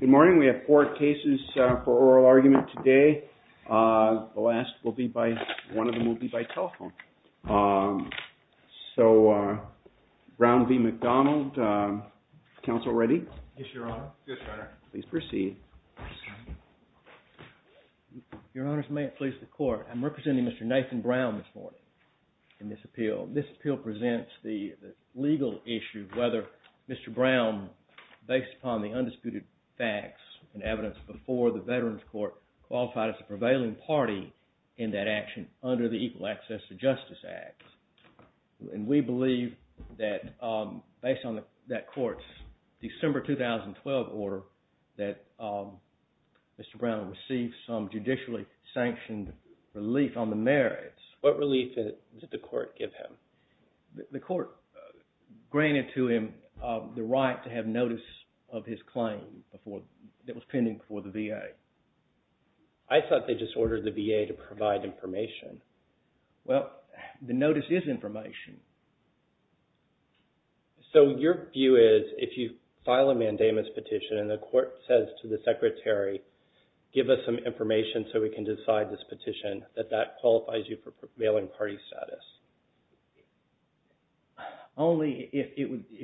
Good morning. We have four cases for oral argument today. The last will be by, one of them will be by telephone. So, Brown v. McDonald. Counsel ready? Yes, Your Honor. Please proceed. Your Honor, may it please the Court. I'm representing Mr. Nathan Brown this morning in this appeal. This appeal presents the legal issue of whether Mr. Brown, based upon the undisputed facts and evidence before the Veterans Court, qualified as a prevailing party in that action under the Equal Access to Justice Act. And we believe that, based on that court's December 2012 order, that Mr. Brown received some judicially sanctioned relief on the right to have notice of his claim that was pending before the VA. I thought they just ordered the VA to provide information. Well, the notice is information. So your view is, if you file a mandamus petition and the court says to the Secretary, give us some information so we can decide this petition, that that qualifies you for prevailing party status? Only if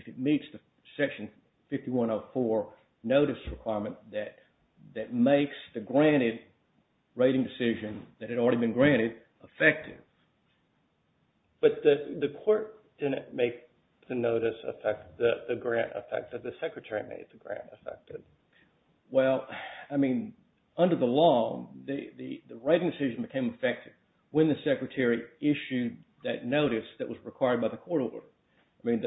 it meets the Section 5104 notice requirement that makes the granted rating decision, that had already been granted, effective. But the court didn't make the notice effective, the grant effective. The Secretary made the grant effective. Well, I mean, under the law, the rating decision became effective when the court received that notice that was required by the court order. Can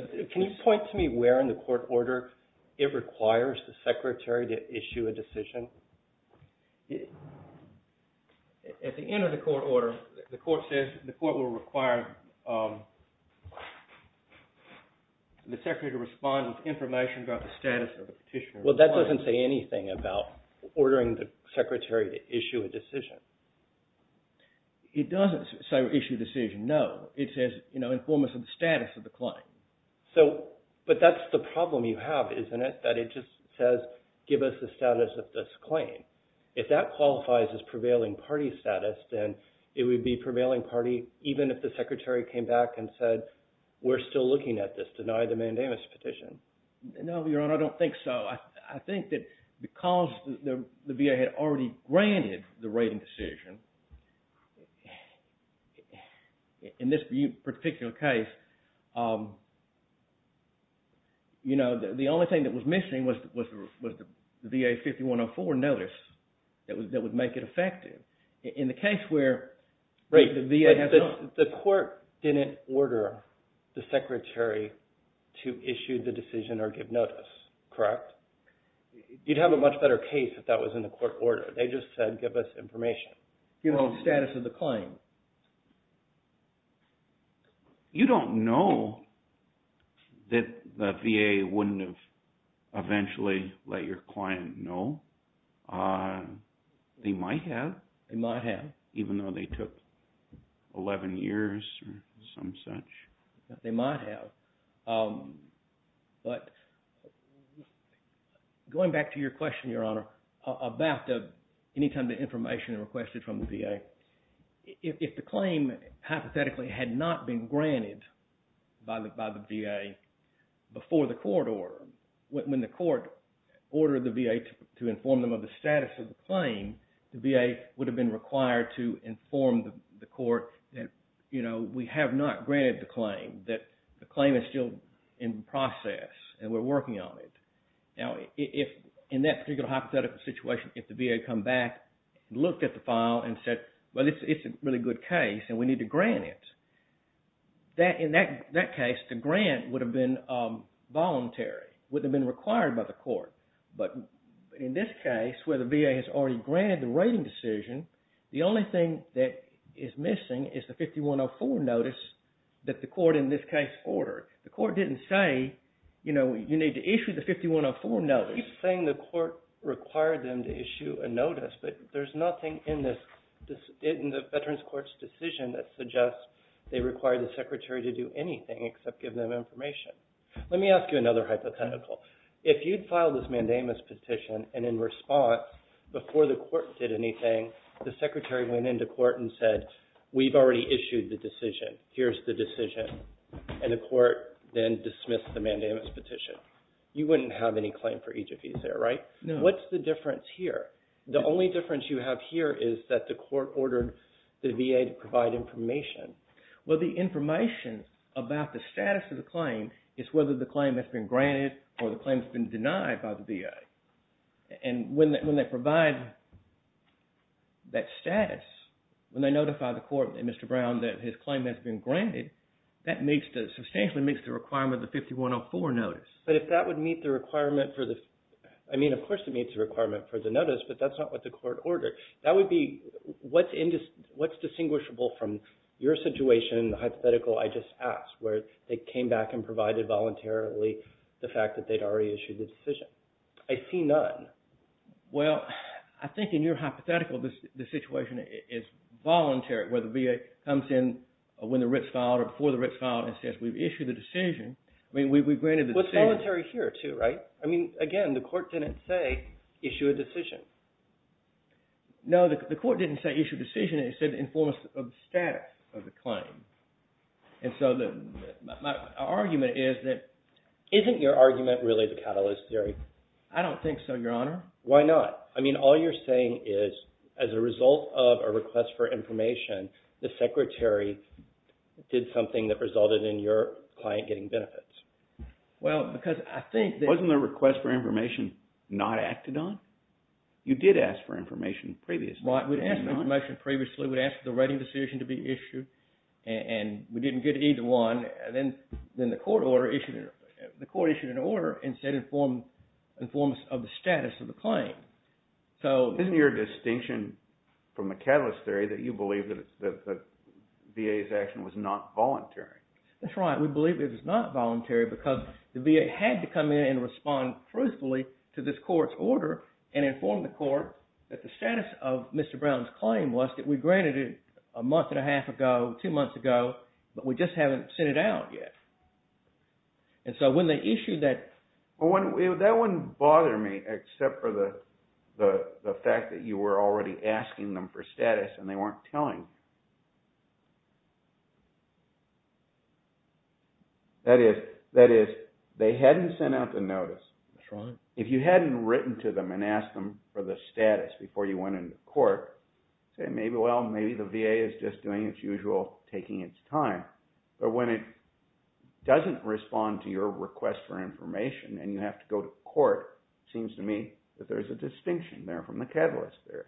you point to me where in the court order it requires the Secretary to issue a decision? At the end of the court order, the court says the court will require the Secretary to respond with information about the status of the petitioner. Well, that doesn't say anything about ordering the Secretary to issue a decision. It doesn't say issue a decision, no. It says inform us of the status of the claim. But that's the problem you have, isn't it? That it just says, give us the status of this claim. If that qualifies as prevailing party status, then it would be prevailing party, even if the Secretary came back and said, we're still looking at this. Deny the mandamus petition. No, Your Honor, I don't think so. I think that because the VA had already granted the rating decision, in this particular case, the only thing that was missing was the VA 5104 notice that would make it effective. In the case where the VA has not. The court didn't order the Secretary to issue the decision or give notice, correct? You'd have a much better case if that was in the court order. They just said, give us information. Give us the status of the claim. You don't know that the VA wouldn't have eventually let your client know. They might have. They might have. Even though they took 11 years or some such. They might have. Going back to your question, Your Honor, about any time the information requested from the VA. If the claim, hypothetically, had not been granted by the VA before the court order, when the court ordered the VA to inform them of the status of the claim, the VA would have been required to inform the court that we have not granted the claim, that the claim is still in process and we're working on it. Now, in that particular hypothetical situation, if the VA had come back and looked at the file and said, well, it's a really good case and we need to grant it, in that case, the grant would have been voluntary, would have been required by the court. But in this case, where the VA has already granted the rating decision, the only thing that is missing is the 5104 notice that the court, in this case, ordered. The court didn't say, you know, you need to issue the 5104 notice. You keep saying the court required them to issue a notice. But there's nothing in the Veterans Court's decision that suggests they require the secretary to do anything except give them information. Let me ask you another hypothetical. If you'd filed this mandamus petition and in response, before the court did anything, the secretary went into court and said, we've already issued the decision. Here's the decision. And the court then dismissed the mandamus petition. You wouldn't have any claim for each of these there, right? No. What's the difference here? The only difference you have here is that the court ordered the VA to provide information. Well, the information about the status of the claim is whether the claim has been granted or the claim has been denied by the VA. And when they provide that status, when they notify the court and Mr. Brown that his claim has been granted, that substantially meets the requirement of the 5104 notice. But if that would meet the requirement for the – I mean, of course it meets the requirement for the notice, but that's not what the court ordered. That would be – what's distinguishable from your situation, the hypothetical I just asked, where they came back and provided voluntarily the fact that they'd already issued the decision? I see none. Well, I think in your hypothetical, the situation is voluntary where the VA comes in when the writ's filed or before the writ's filed and says we've issued the decision. I mean, we've granted the decision. Well, it's voluntary here too, right? I mean, again, the court didn't say issue a decision. No, the court didn't say issue a decision. It said inform us of the status of the claim. And so my argument is that – Isn't your argument really the catalyst theory? I don't think so, Your Honor. Why not? I mean, all you're saying is as a result of a request for information, the secretary did something that resulted in your client getting benefits. Well, because I think that – Wasn't the request for information not acted on? You did ask for information previously. Well, I would ask for information previously. We'd ask for the writing decision to be issued, and we didn't get either one. Then the court issued an order and said inform us of the status of the claim. So – Isn't your distinction from the catalyst theory that you believe that the VA's action was not voluntary? That's right. We believe it was not voluntary because the VA had to come in and respond truthfully to this court's order and inform the court that the status of Mr. Brown's claim was that we granted it a month and a half ago, two months ago, but we just haven't sent it out yet. And so when they issued that – Well, that wouldn't bother me except for the fact that you were already asking them for status and they weren't telling. That is, they hadn't sent out the notice. That's right. If you hadn't written to them and asked them for the status before you went into But when it doesn't respond to your request for information and you have to go to court, it seems to me that there's a distinction there from the catalyst theory.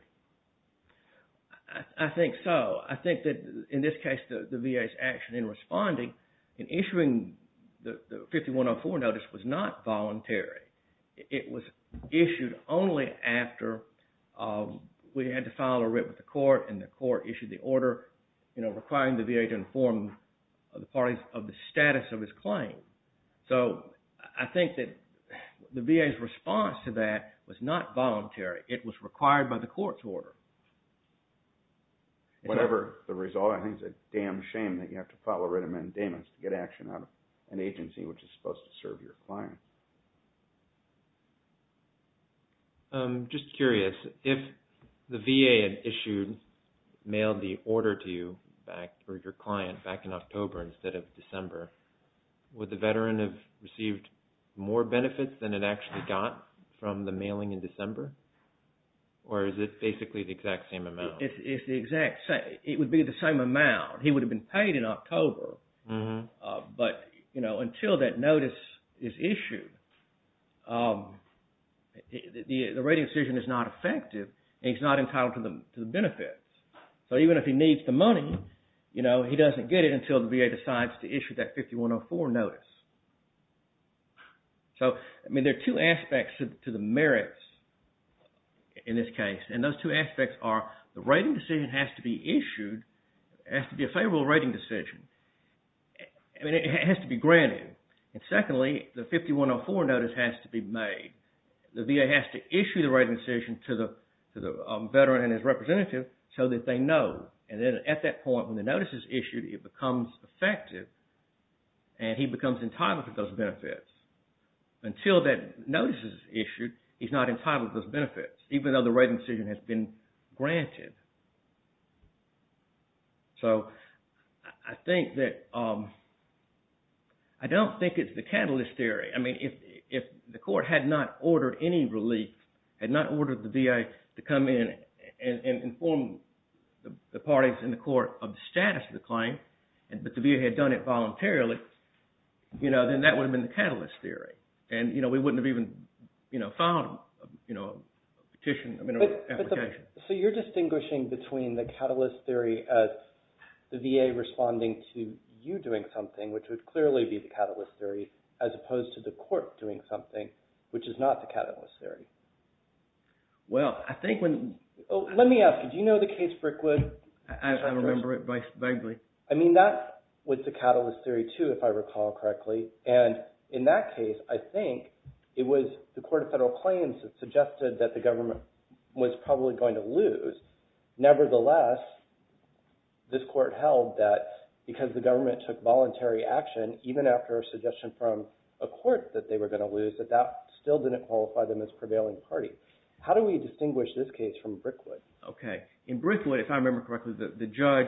I think so. I think that in this case, the VA's action in responding and issuing the 5104 notice was not voluntary. It was issued only after we had to file a writ with the court and the court informed the parties of the status of his claim. So I think that the VA's response to that was not voluntary. It was required by the court's order. Whatever the result, I think it's a damn shame that you have to file a writ of mandamus to get action out of an agency which is supposed to serve your client. I'm just curious. If the VA had issued, mailed the order to you or your client back in October instead of December, would the veteran have received more benefits than it actually got from the mailing in December? Or is it basically the exact same amount? It's the exact same. It would be the same amount. He would have been paid in October. But until that notice is issued, the rating decision is not effective and he's not entitled to the benefits. So even if he needs the money, he doesn't get it until the VA decides to issue that 5104 notice. So there are two aspects to the merits in this case. And those two aspects are the rating decision has to be issued, has to be a granted. And secondly, the 5104 notice has to be made. The VA has to issue the rating decision to the veteran and his representative so that they know. And then at that point when the notice is issued, it becomes effective and he becomes entitled to those benefits. Until that notice is issued, he's not entitled to those benefits even though the rating decision has been granted. So I think that, I don't think it's the catalyst theory. I mean if the court had not ordered any relief, had not ordered the VA to come in and inform the parties in the court of the status of the claim, but the VA had done it voluntarily, then that would have been the catalyst theory. And we wouldn't have even filed a petition. So you're distinguishing between the catalyst theory as the VA responding to you doing something, which would clearly be the catalyst theory, as opposed to the court doing something, which is not the catalyst theory. Well, I think when... Let me ask you, do you know the case Brickwood? I remember it vaguely. I mean that was the catalyst theory too, if I recall correctly. And in that case, I think it was the court of federal claims that suggested that the government was probably going to lose. Nevertheless, this court held that because the government took voluntary action, even after a suggestion from a court that they were going to lose, that that still didn't qualify them as prevailing parties. How do we distinguish this case from Brickwood? Okay. In Brickwood, if I remember correctly, the judge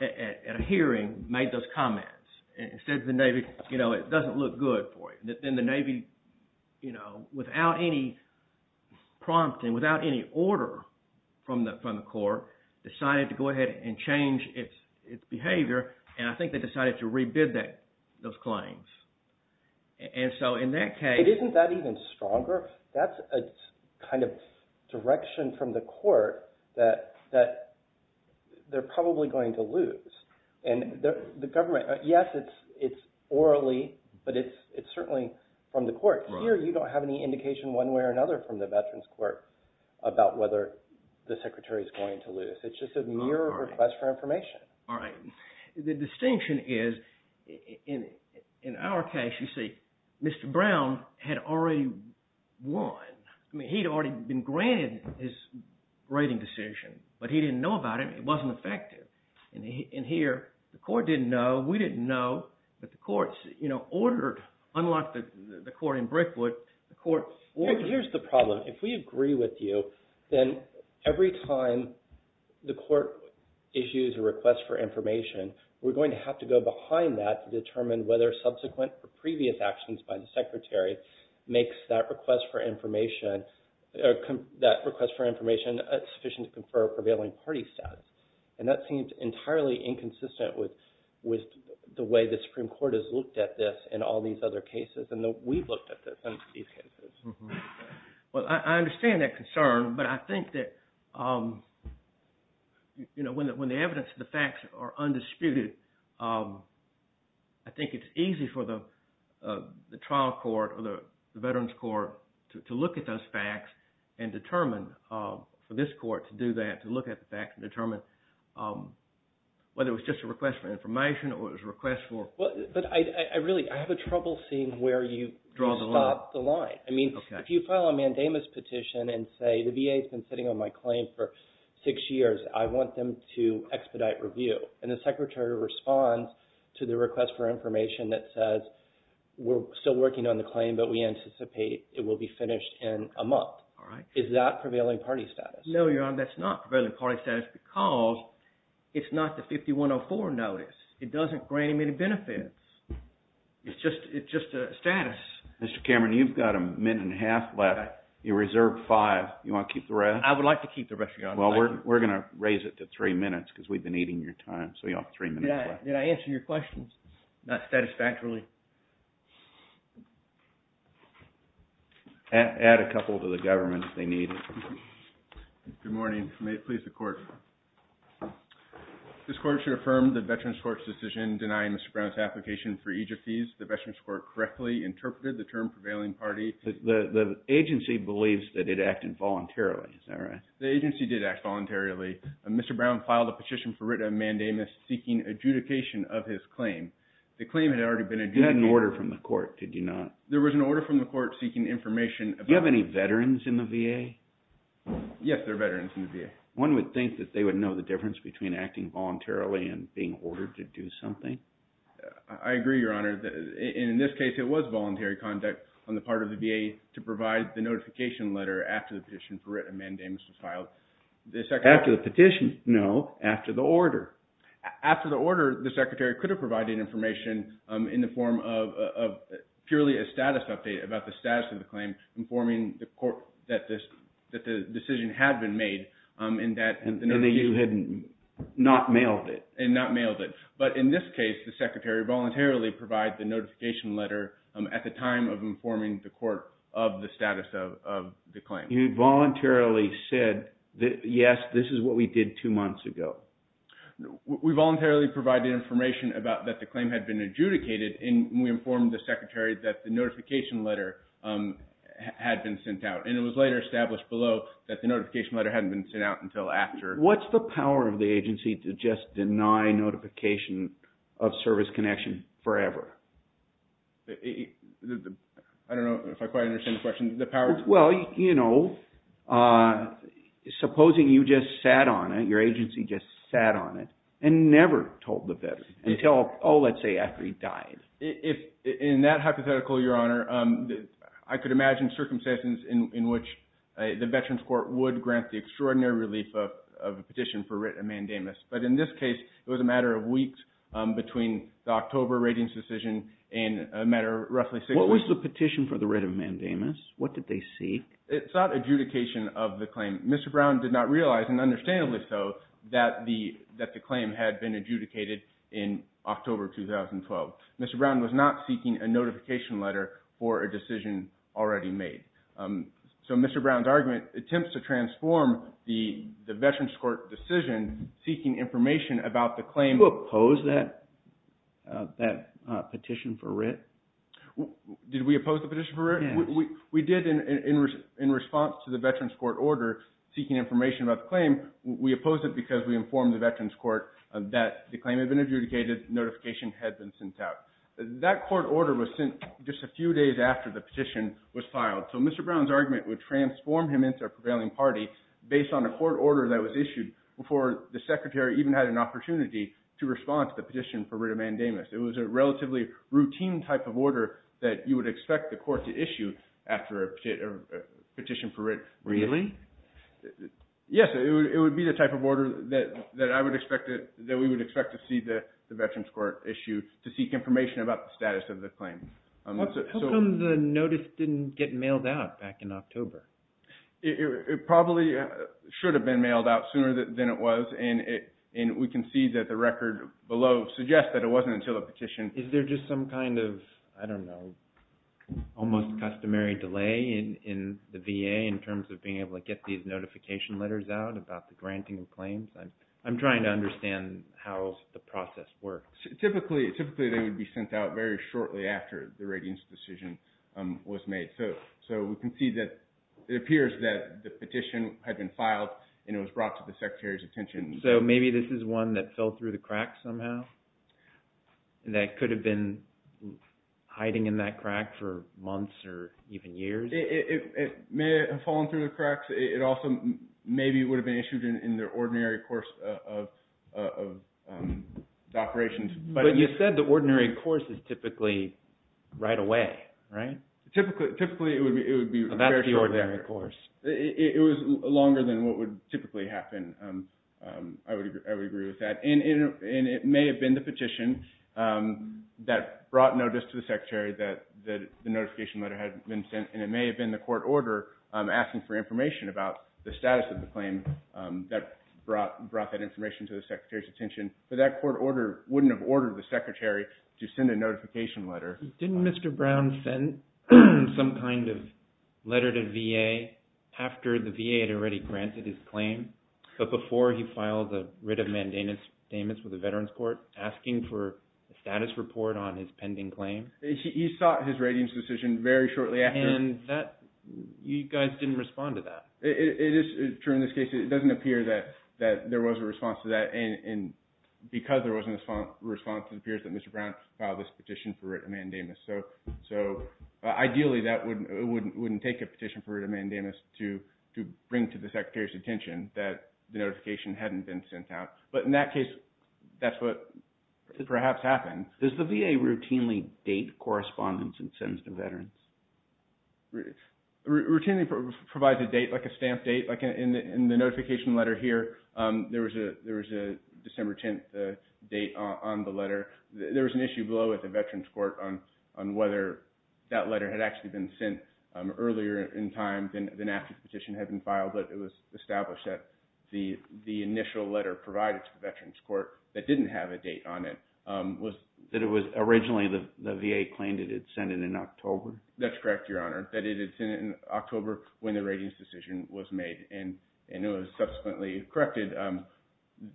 at a hearing made those comments. And said to the Navy, it doesn't look good for you. And then the Navy, without any prompting, without any order from the court, decided to go ahead and change its behavior, and I think they decided to re-bid those claims. And so in that case… Isn't that even stronger? That's a kind of direction from the court that they're probably going to lose. And the government, yes, it's orally, but it's certainly from the court. Here, you don't have any indication one way or another from the veterans court about whether the secretary is going to lose. It's just a mere request for information. All right. The distinction is, in our case, you see, Mr. Brown had already won. I mean he'd already been granted his rating decision, but he didn't know about it. It wasn't effective. And here, the court didn't know, we didn't know, but the court ordered, unlike the court in Brickwood, the court… Here's the problem. If we agree with you, then every time the court issues a request for information, we're going to have to go behind that to determine whether subsequent or previous actions by the secretary makes that request for information sufficient to confer prevailing party status. And that seems entirely inconsistent with the way the Supreme Court has looked at this in all these other cases. And we've looked at this in these cases. Well, I understand that concern, but I think that when the evidence and the facts are undisputed, I think it's easy for the trial court or the veterans court to look at those facts and determine, for this court to do that, to look at the facts and determine whether it was just a request for information or it was a request for… But I really, I have trouble seeing where you draw the line. I mean, if you file a mandamus petition and say the VA's been sitting on my claim for six years, I want them to expedite review, and the secretary responds to the request for information that says, we're still working on the claim, but we anticipate it will be finished in a month. Is that prevailing party status? No, Your Honor, that's not prevailing party status because it's not the 5104 notice. It doesn't grant him any benefits. It's just a status. Mr. Cameron, you've got a minute and a half left. You reserved five. You want to keep the rest? I would like to keep the rest, Your Honor. Well, we're going to raise it to three minutes because we've been eating your time, so you have three minutes left. Did I answer your questions? Not satisfactorily. Add a couple to the government if they need it. Good morning. May it please the court. This court should affirm the veterans court's decision denying Mr. Brown's application for eejit fees. The veterans court correctly interpreted the term prevailing party. The agency believes that it acted voluntarily, is that right? The agency did act voluntarily. Mr. Brown filed a petition for writ of mandamus seeking adjudication of his claim. The claim had already been adjudicated. You had an order from the court, did you not? There was an order from the court seeking information. Do you have any veterans in the VA? Yes, there are veterans in the VA. One would think that they would know the difference between acting voluntarily and being ordered to do something. I agree, Your Honor. In this case, it was voluntary conduct on the part of the VA to provide the notification letter after the petition for writ of mandamus was filed. After the petition? No, after the order. After the order, the secretary could have provided information in the form of purely a status update about the status of the claim, informing the court that the decision had been made. And that you had not mailed it. And not mailed it. But in this case, the secretary voluntarily provided the notification letter at the time of informing the court of the status of the claim. You voluntarily said, yes, this is what we did two months ago. We voluntarily provided information about that the claim had been adjudicated, and we informed the secretary that the notification letter had been sent out. And it was later established below that the notification letter hadn't been sent out until after. What's the power of the agency to just deny notification of service connection forever? I don't know if I quite understand the question. Well, you know, supposing you just sat on it, your agency just sat on it and never told the veteran until, oh, let's say after he died. In that hypothetical, Your Honor, I could imagine circumstances in which the Veterans Court would grant the extraordinary relief of a petition for writ of mandamus. But in this case, it was a matter of weeks between the October ratings decision and a matter of roughly six weeks. What was the petition for the writ of mandamus? What did they seek? It sought adjudication of the claim. Mr. Brown did not realize, and understandably so, that the claim had been adjudicated in October 2012. Mr. Brown was not seeking a notification letter for a decision already made. So Mr. Brown's argument attempts to transform the Veterans Court decision seeking information about the claim. Did you oppose that petition for writ? Did we oppose the petition for writ? Yes. We did in response to the Veterans Court order seeking information about the claim. We opposed it because we informed the Veterans Court that the claim had been adjudicated, notification had been sent out. That court order was sent just a few days after the petition was filed. So Mr. Brown's argument would transform him into a prevailing party based on a court order that was issued before the Secretary even had an opportunity to respond to the petition for writ of mandamus. It was a relatively routine type of order that you would expect the court to issue after a petition for writ. Really? Yes. It would be the type of order that I would expect, that we would expect to see the Veterans Court issue to seek information about the status of the claim. How come the notice didn't get mailed out back in October? It probably should have been mailed out sooner than it was, and we can see that the record below suggests that it wasn't until the petition. Is there just some kind of, I don't know, almost customary delay in the VA in terms of being able to get these notification letters out about the granting of claims? I'm trying to understand how the process works. Typically they would be sent out very shortly after the ratings decision was made. So we can see that it appears that the petition had been filed and it was brought to the Secretary's attention. So maybe this is one that fell through the cracks somehow, that could have been hiding in that crack for months or even years? It may have fallen through the cracks. It also maybe would have been issued in their ordinary course of operations. But you said the ordinary course is typically right away, right? Typically it would be very shortly after. That's the ordinary course. It was longer than what would typically happen. I would agree with that. And it may have been the petition that brought notice to the Secretary that the notification letter had been sent, and it may have been the court order asking for information about the status of the claim that brought that information to the Secretary's attention. But that court order wouldn't have ordered the Secretary to send a notification letter. Didn't Mr. Brown send some kind of letter to VA after the VA had already granted his claim, but before he filed a writ of mandamus with the Veterans Court asking for a status report on his pending claim? He sought his ratings decision very shortly after. And you guys didn't respond to that. It is true in this case. It doesn't appear that there was a response to that. And because there wasn't a response, it appears that Mr. Brown filed this petition for a writ of mandamus. So ideally, it wouldn't take a petition for a writ of mandamus to bring to the Secretary's attention that the notification hadn't been sent out. But in that case, that's what perhaps happened. Does the VA routinely date correspondence and sends to veterans? Routinely provides a date, like a stamp date. In the notification letter here, there was a December 10th date on the letter. There was an issue below at the Veterans Court on whether that letter had actually been sent earlier in time than after the petition had been filed. But it was established that the initial letter provided to the Veterans Court that didn't have a date on it was- That it was originally the VA claimed it had sent it in October. That's correct, Your Honor, that it had sent it in October when the ratings decision was made. And it was subsequently corrected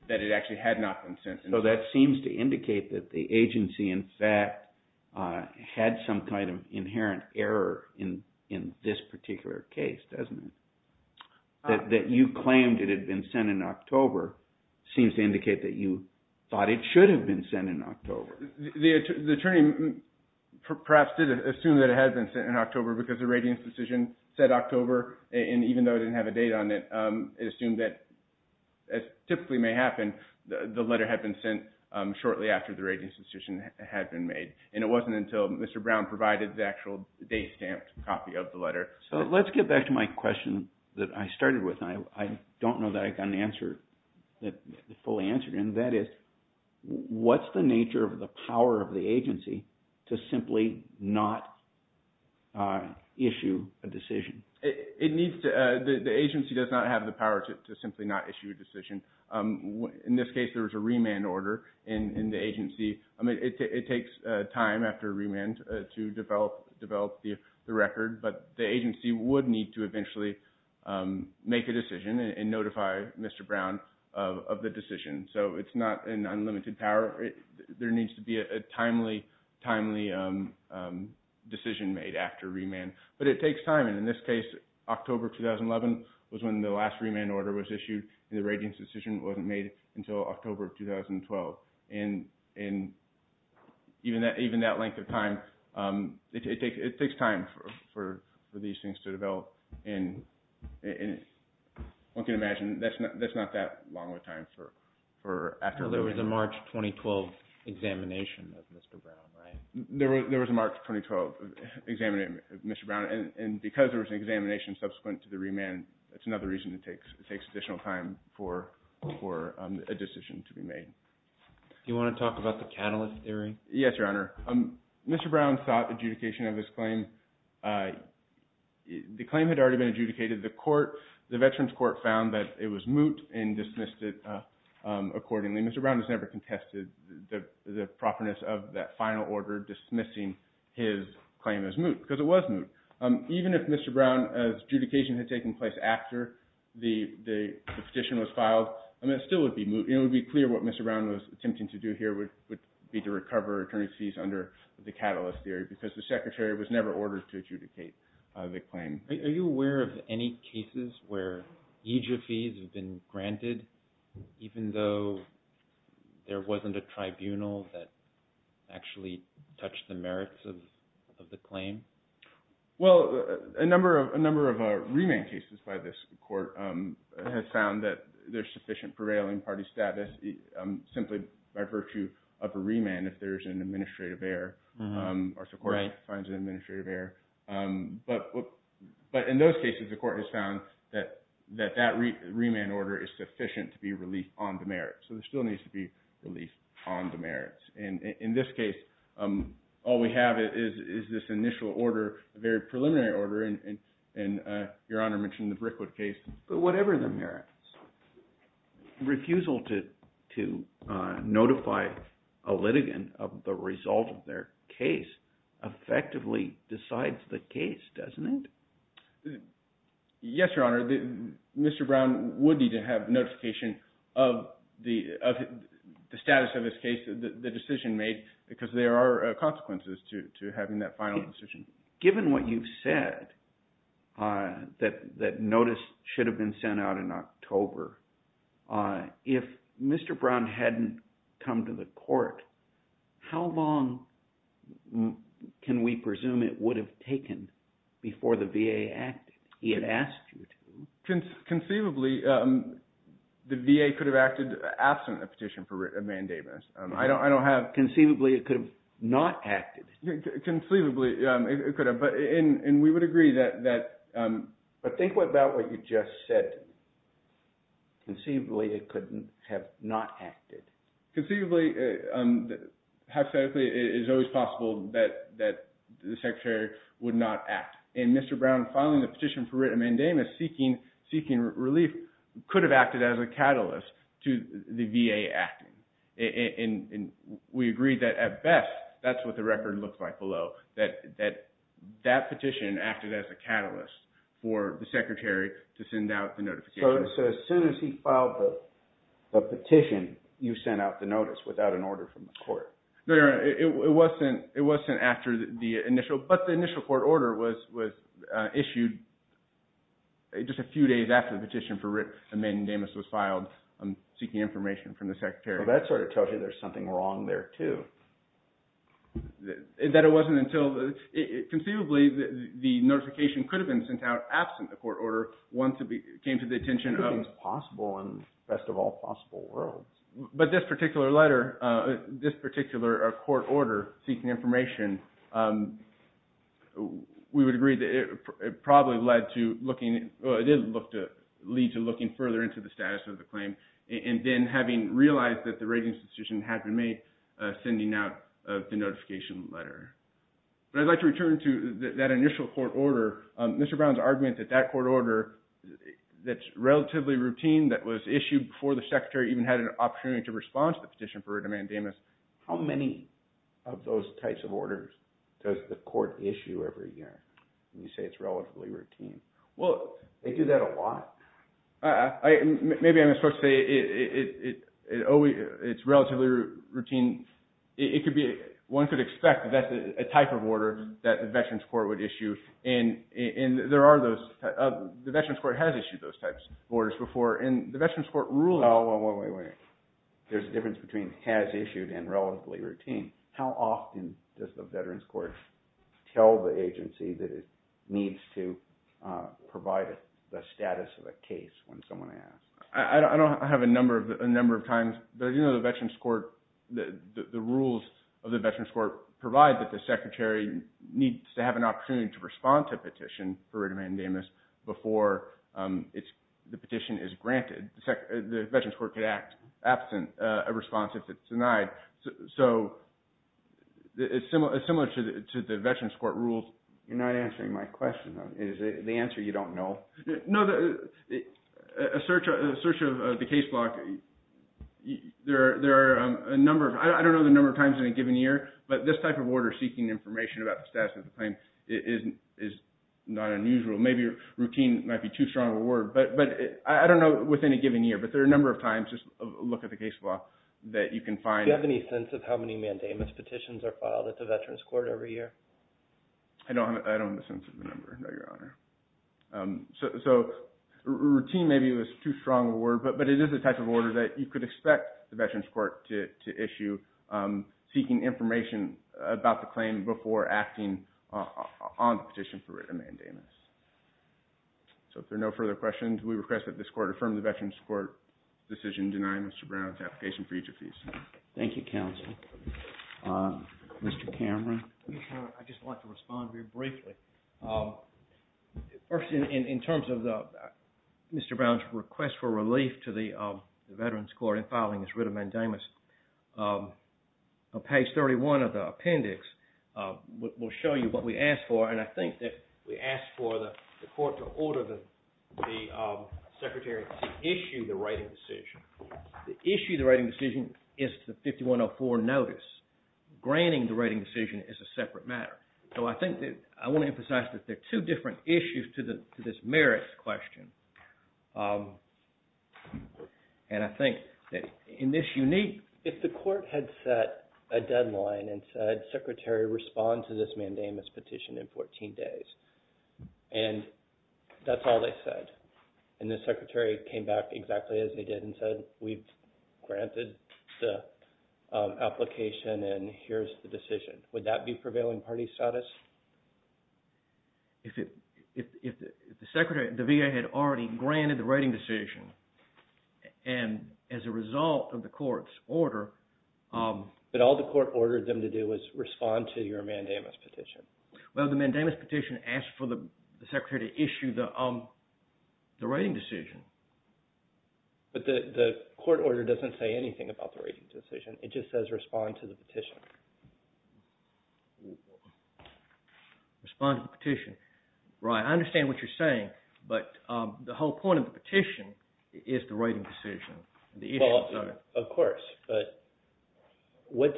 that it actually had not been sent. So that seems to indicate that the agency, in fact, had some kind of inherent error in this particular case, doesn't it? That you claimed it had been sent in October seems to indicate that you thought it should have been sent in October. The attorney perhaps did assume that it had been sent in October because the ratings decision said October. And even though it didn't have a date on it, it assumed that, as typically may happen, the letter had been sent shortly after the ratings decision had been made. And it wasn't until Mr. Brown provided the actual date stamped copy of the letter. So let's get back to my question that I started with. And I don't know that I got an answer that fully answered. And that is, what's the nature of the power of the agency to simply not issue a decision? The agency does not have the power to simply not issue a decision. In this case, there was a remand order in the agency. It takes time after remand to develop the record. But the agency would need to eventually make a decision and notify Mr. Brown of the decision. So it's not an unlimited power. There needs to be a timely decision made after remand. But it takes time. And in this case, October 2011 was when the last remand order was issued. And the ratings decision wasn't made until October of 2012. And even that length of time, it takes time for these things to develop. And one can imagine that's not that long of a time for after remand. There was a March 2012 examination of Mr. Brown, right? There was a March 2012 examination of Mr. Brown. And because there was an examination subsequent to the remand, it's another reason it takes additional time for a decision to be made. Do you want to talk about the catalyst theory? Yes, Your Honor. Mr. Brown sought adjudication of his claim. The claim had already been adjudicated. The veterans court found that it was moot and dismissed it accordingly. Mr. Brown has never contested the properness of that final order dismissing his claim as moot because it was moot. Even if Mr. Brown's adjudication had taken place after the petition was filed, it still would be moot. It would be clear what Mr. Brown was attempting to do here would be to recover attorney's fees under the catalyst theory because the secretary was never ordered to adjudicate the claim. Are you aware of any cases where EJIA fees have been granted even though there wasn't a tribunal that actually touched the merits of the claim? Well, a number of remand cases by this court have found that there's sufficient prevailing party status simply by virtue of a remand if there's an administrative error or the court finds an administrative error. But in those cases, the court has found that that remand order is sufficient to be released on the merits. So it still needs to be released on the merits. And in this case, all we have is this initial order, very preliminary order, and Your Honor mentioned the Brickwood case. But whatever the merits. Refusal to notify a litigant of the result of their case effectively decides the case, doesn't it? Yes, Your Honor. Mr. Brown would need to have notification of the status of his case, the decision made, because there are consequences to having that final decision. Given what you've said, that notice should have been sent out in October, if Mr. Brown hadn't come to the court, how long can we presume it would have taken before the VA acted? He had asked you to. Conceivably, the VA could have acted absent a petition for mandamus. I don't have – Conceivably, it could have not acted. Conceivably, it could have. And we would agree that – But think about what you just said. Conceivably, it could have not acted. Conceivably, hypothetically, it is always possible that the Secretary would not act. And Mr. Brown filing a petition for mandamus seeking relief could have acted as a catalyst to the VA acting. And we agree that at best, that's what the record looked like below, that that petition acted as a catalyst for the Secretary to send out the notification. So as soon as he filed the petition, you sent out the notice without an order from the court? No, Your Honor, it wasn't after the initial – but the initial court order was issued just a few days after the petition for mandamus was filed seeking information from the Secretary. Well, that sort of tells you there's something wrong there, too. That it wasn't until – conceivably, the notification could have been sent out absent the court order once it came to the attention of – Anything is possible in the best of all possible worlds. But this particular letter, this particular court order seeking information, we would agree that it probably led to looking – well, it did lead to looking further into the status of the claim. And then having realized that the ratings decision had been made, sending out the notification letter. But I'd like to return to that initial court order. Mr. Brown's argument that that court order that's relatively routine, that was issued before the Secretary even had an opportunity to respond to the petition for a demandamus, how many of those types of orders does the court issue every year? You say it's relatively routine. Well, they do that a lot. Maybe I'm supposed to say it's relatively routine. It could be – one could expect that's a type of order that the Veterans Court would issue. And there are those – the Veterans Court has issued those types of orders before. And the Veterans Court ruling – Wait, wait, wait. There's a difference between has issued and relatively routine. How often does the Veterans Court tell the agency that it needs to provide the status of a case when someone asks? I don't have a number of times. But I do know the Veterans Court – the rules of the Veterans Court provide that the Secretary needs to have an opportunity to respond to a petition for a demandamus before the petition is granted. The Veterans Court could act absent a response if it's denied. So it's similar to the Veterans Court rules. You're not answering my question. Is it the answer you don't know? No. A search of the case block, there are a number of – I don't know the number of times in a given year, but this type of order seeking information about the status of the claim is not unusual. Maybe routine might be too strong of a word. But I don't know within a given year. But there are a number of times, just look at the case block, that you can find – Do you have any sense of how many demandamus petitions are filed at the Veterans Court every year? I don't have a sense of the number, no, Your Honor. So routine maybe was too strong of a word. But it is the type of order that you could expect the Veterans Court to issue seeking information about the claim before acting on the petition for demandamus. So if there are no further questions, we request that this Court affirm the Veterans Court decision denying Mr. Brown's application for each of these. Thank you, counsel. Mr. Cameron. I just want to respond very briefly. First, in terms of Mr. Brown's request for relief to the Veterans Court in filing his writ of demandamus, page 31 of the appendix will show you what we asked for. And I think that we asked for the Court to order the Secretary to issue the writing decision. The issue of the writing decision is the 5104 notice. Granting the writing decision is a separate matter. So I think that – I want to emphasize that there are two different issues to this merits question. And I think that in this unique – the Court had set a deadline and said, Secretary, respond to this demandamus petition in 14 days. And that's all they said. And the Secretary came back exactly as they did and said, we've granted the application and here's the decision. Would that be prevailing party status? If the Secretary – the VA had already granted the writing decision, and as a result of the Court's order – But all the Court ordered them to do was respond to your demandamus petition. Well, the demandamus petition asked for the Secretary to issue the writing decision. But the Court order doesn't say anything about the writing decision. It just says respond to the petition. Respond to the petition. Right. I understand what you're saying. But the whole point of the petition is the writing decision. Well, of course. But what's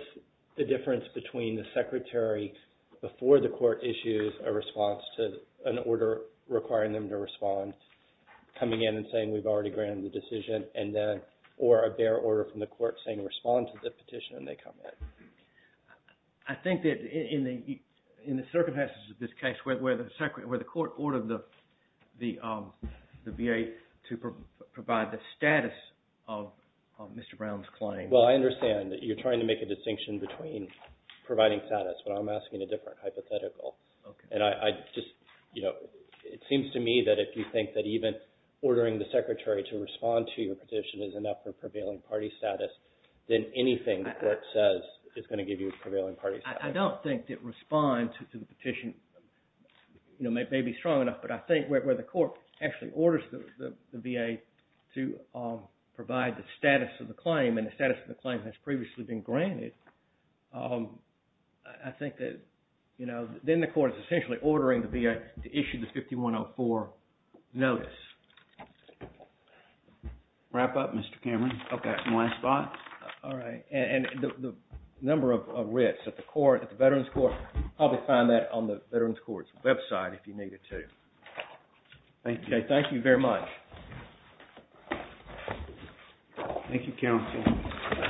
the difference between the Secretary, before the Court issues a response to an order requiring them to respond, coming in and saying we've already granted the decision, and then – or a bare order from the Court saying respond to the petition and they come in. I think that in the circumstances of this case where the Court ordered the VA to provide the status of Mr. Brown's claim – Well, I understand that you're trying to make a distinction between providing status, but I'm asking a different hypothetical. And I just – it seems to me that if you think that even ordering the Secretary to respond to your petition is enough for prevailing party status, then anything the Court says is going to give you prevailing party status. I don't think that respond to the petition may be strong enough. But I think where the Court actually orders the VA to provide the status of the claim and the status of the claim has previously been granted, I think that then the Court is essentially ordering the VA to issue the 5104 notice. Wrap up, Mr. Cameron. Okay, that's my spot. All right. And the number of writs at the Veterans Court, probably find that on the Veterans Court's website if you needed to. Thank you. Thank you, counsel.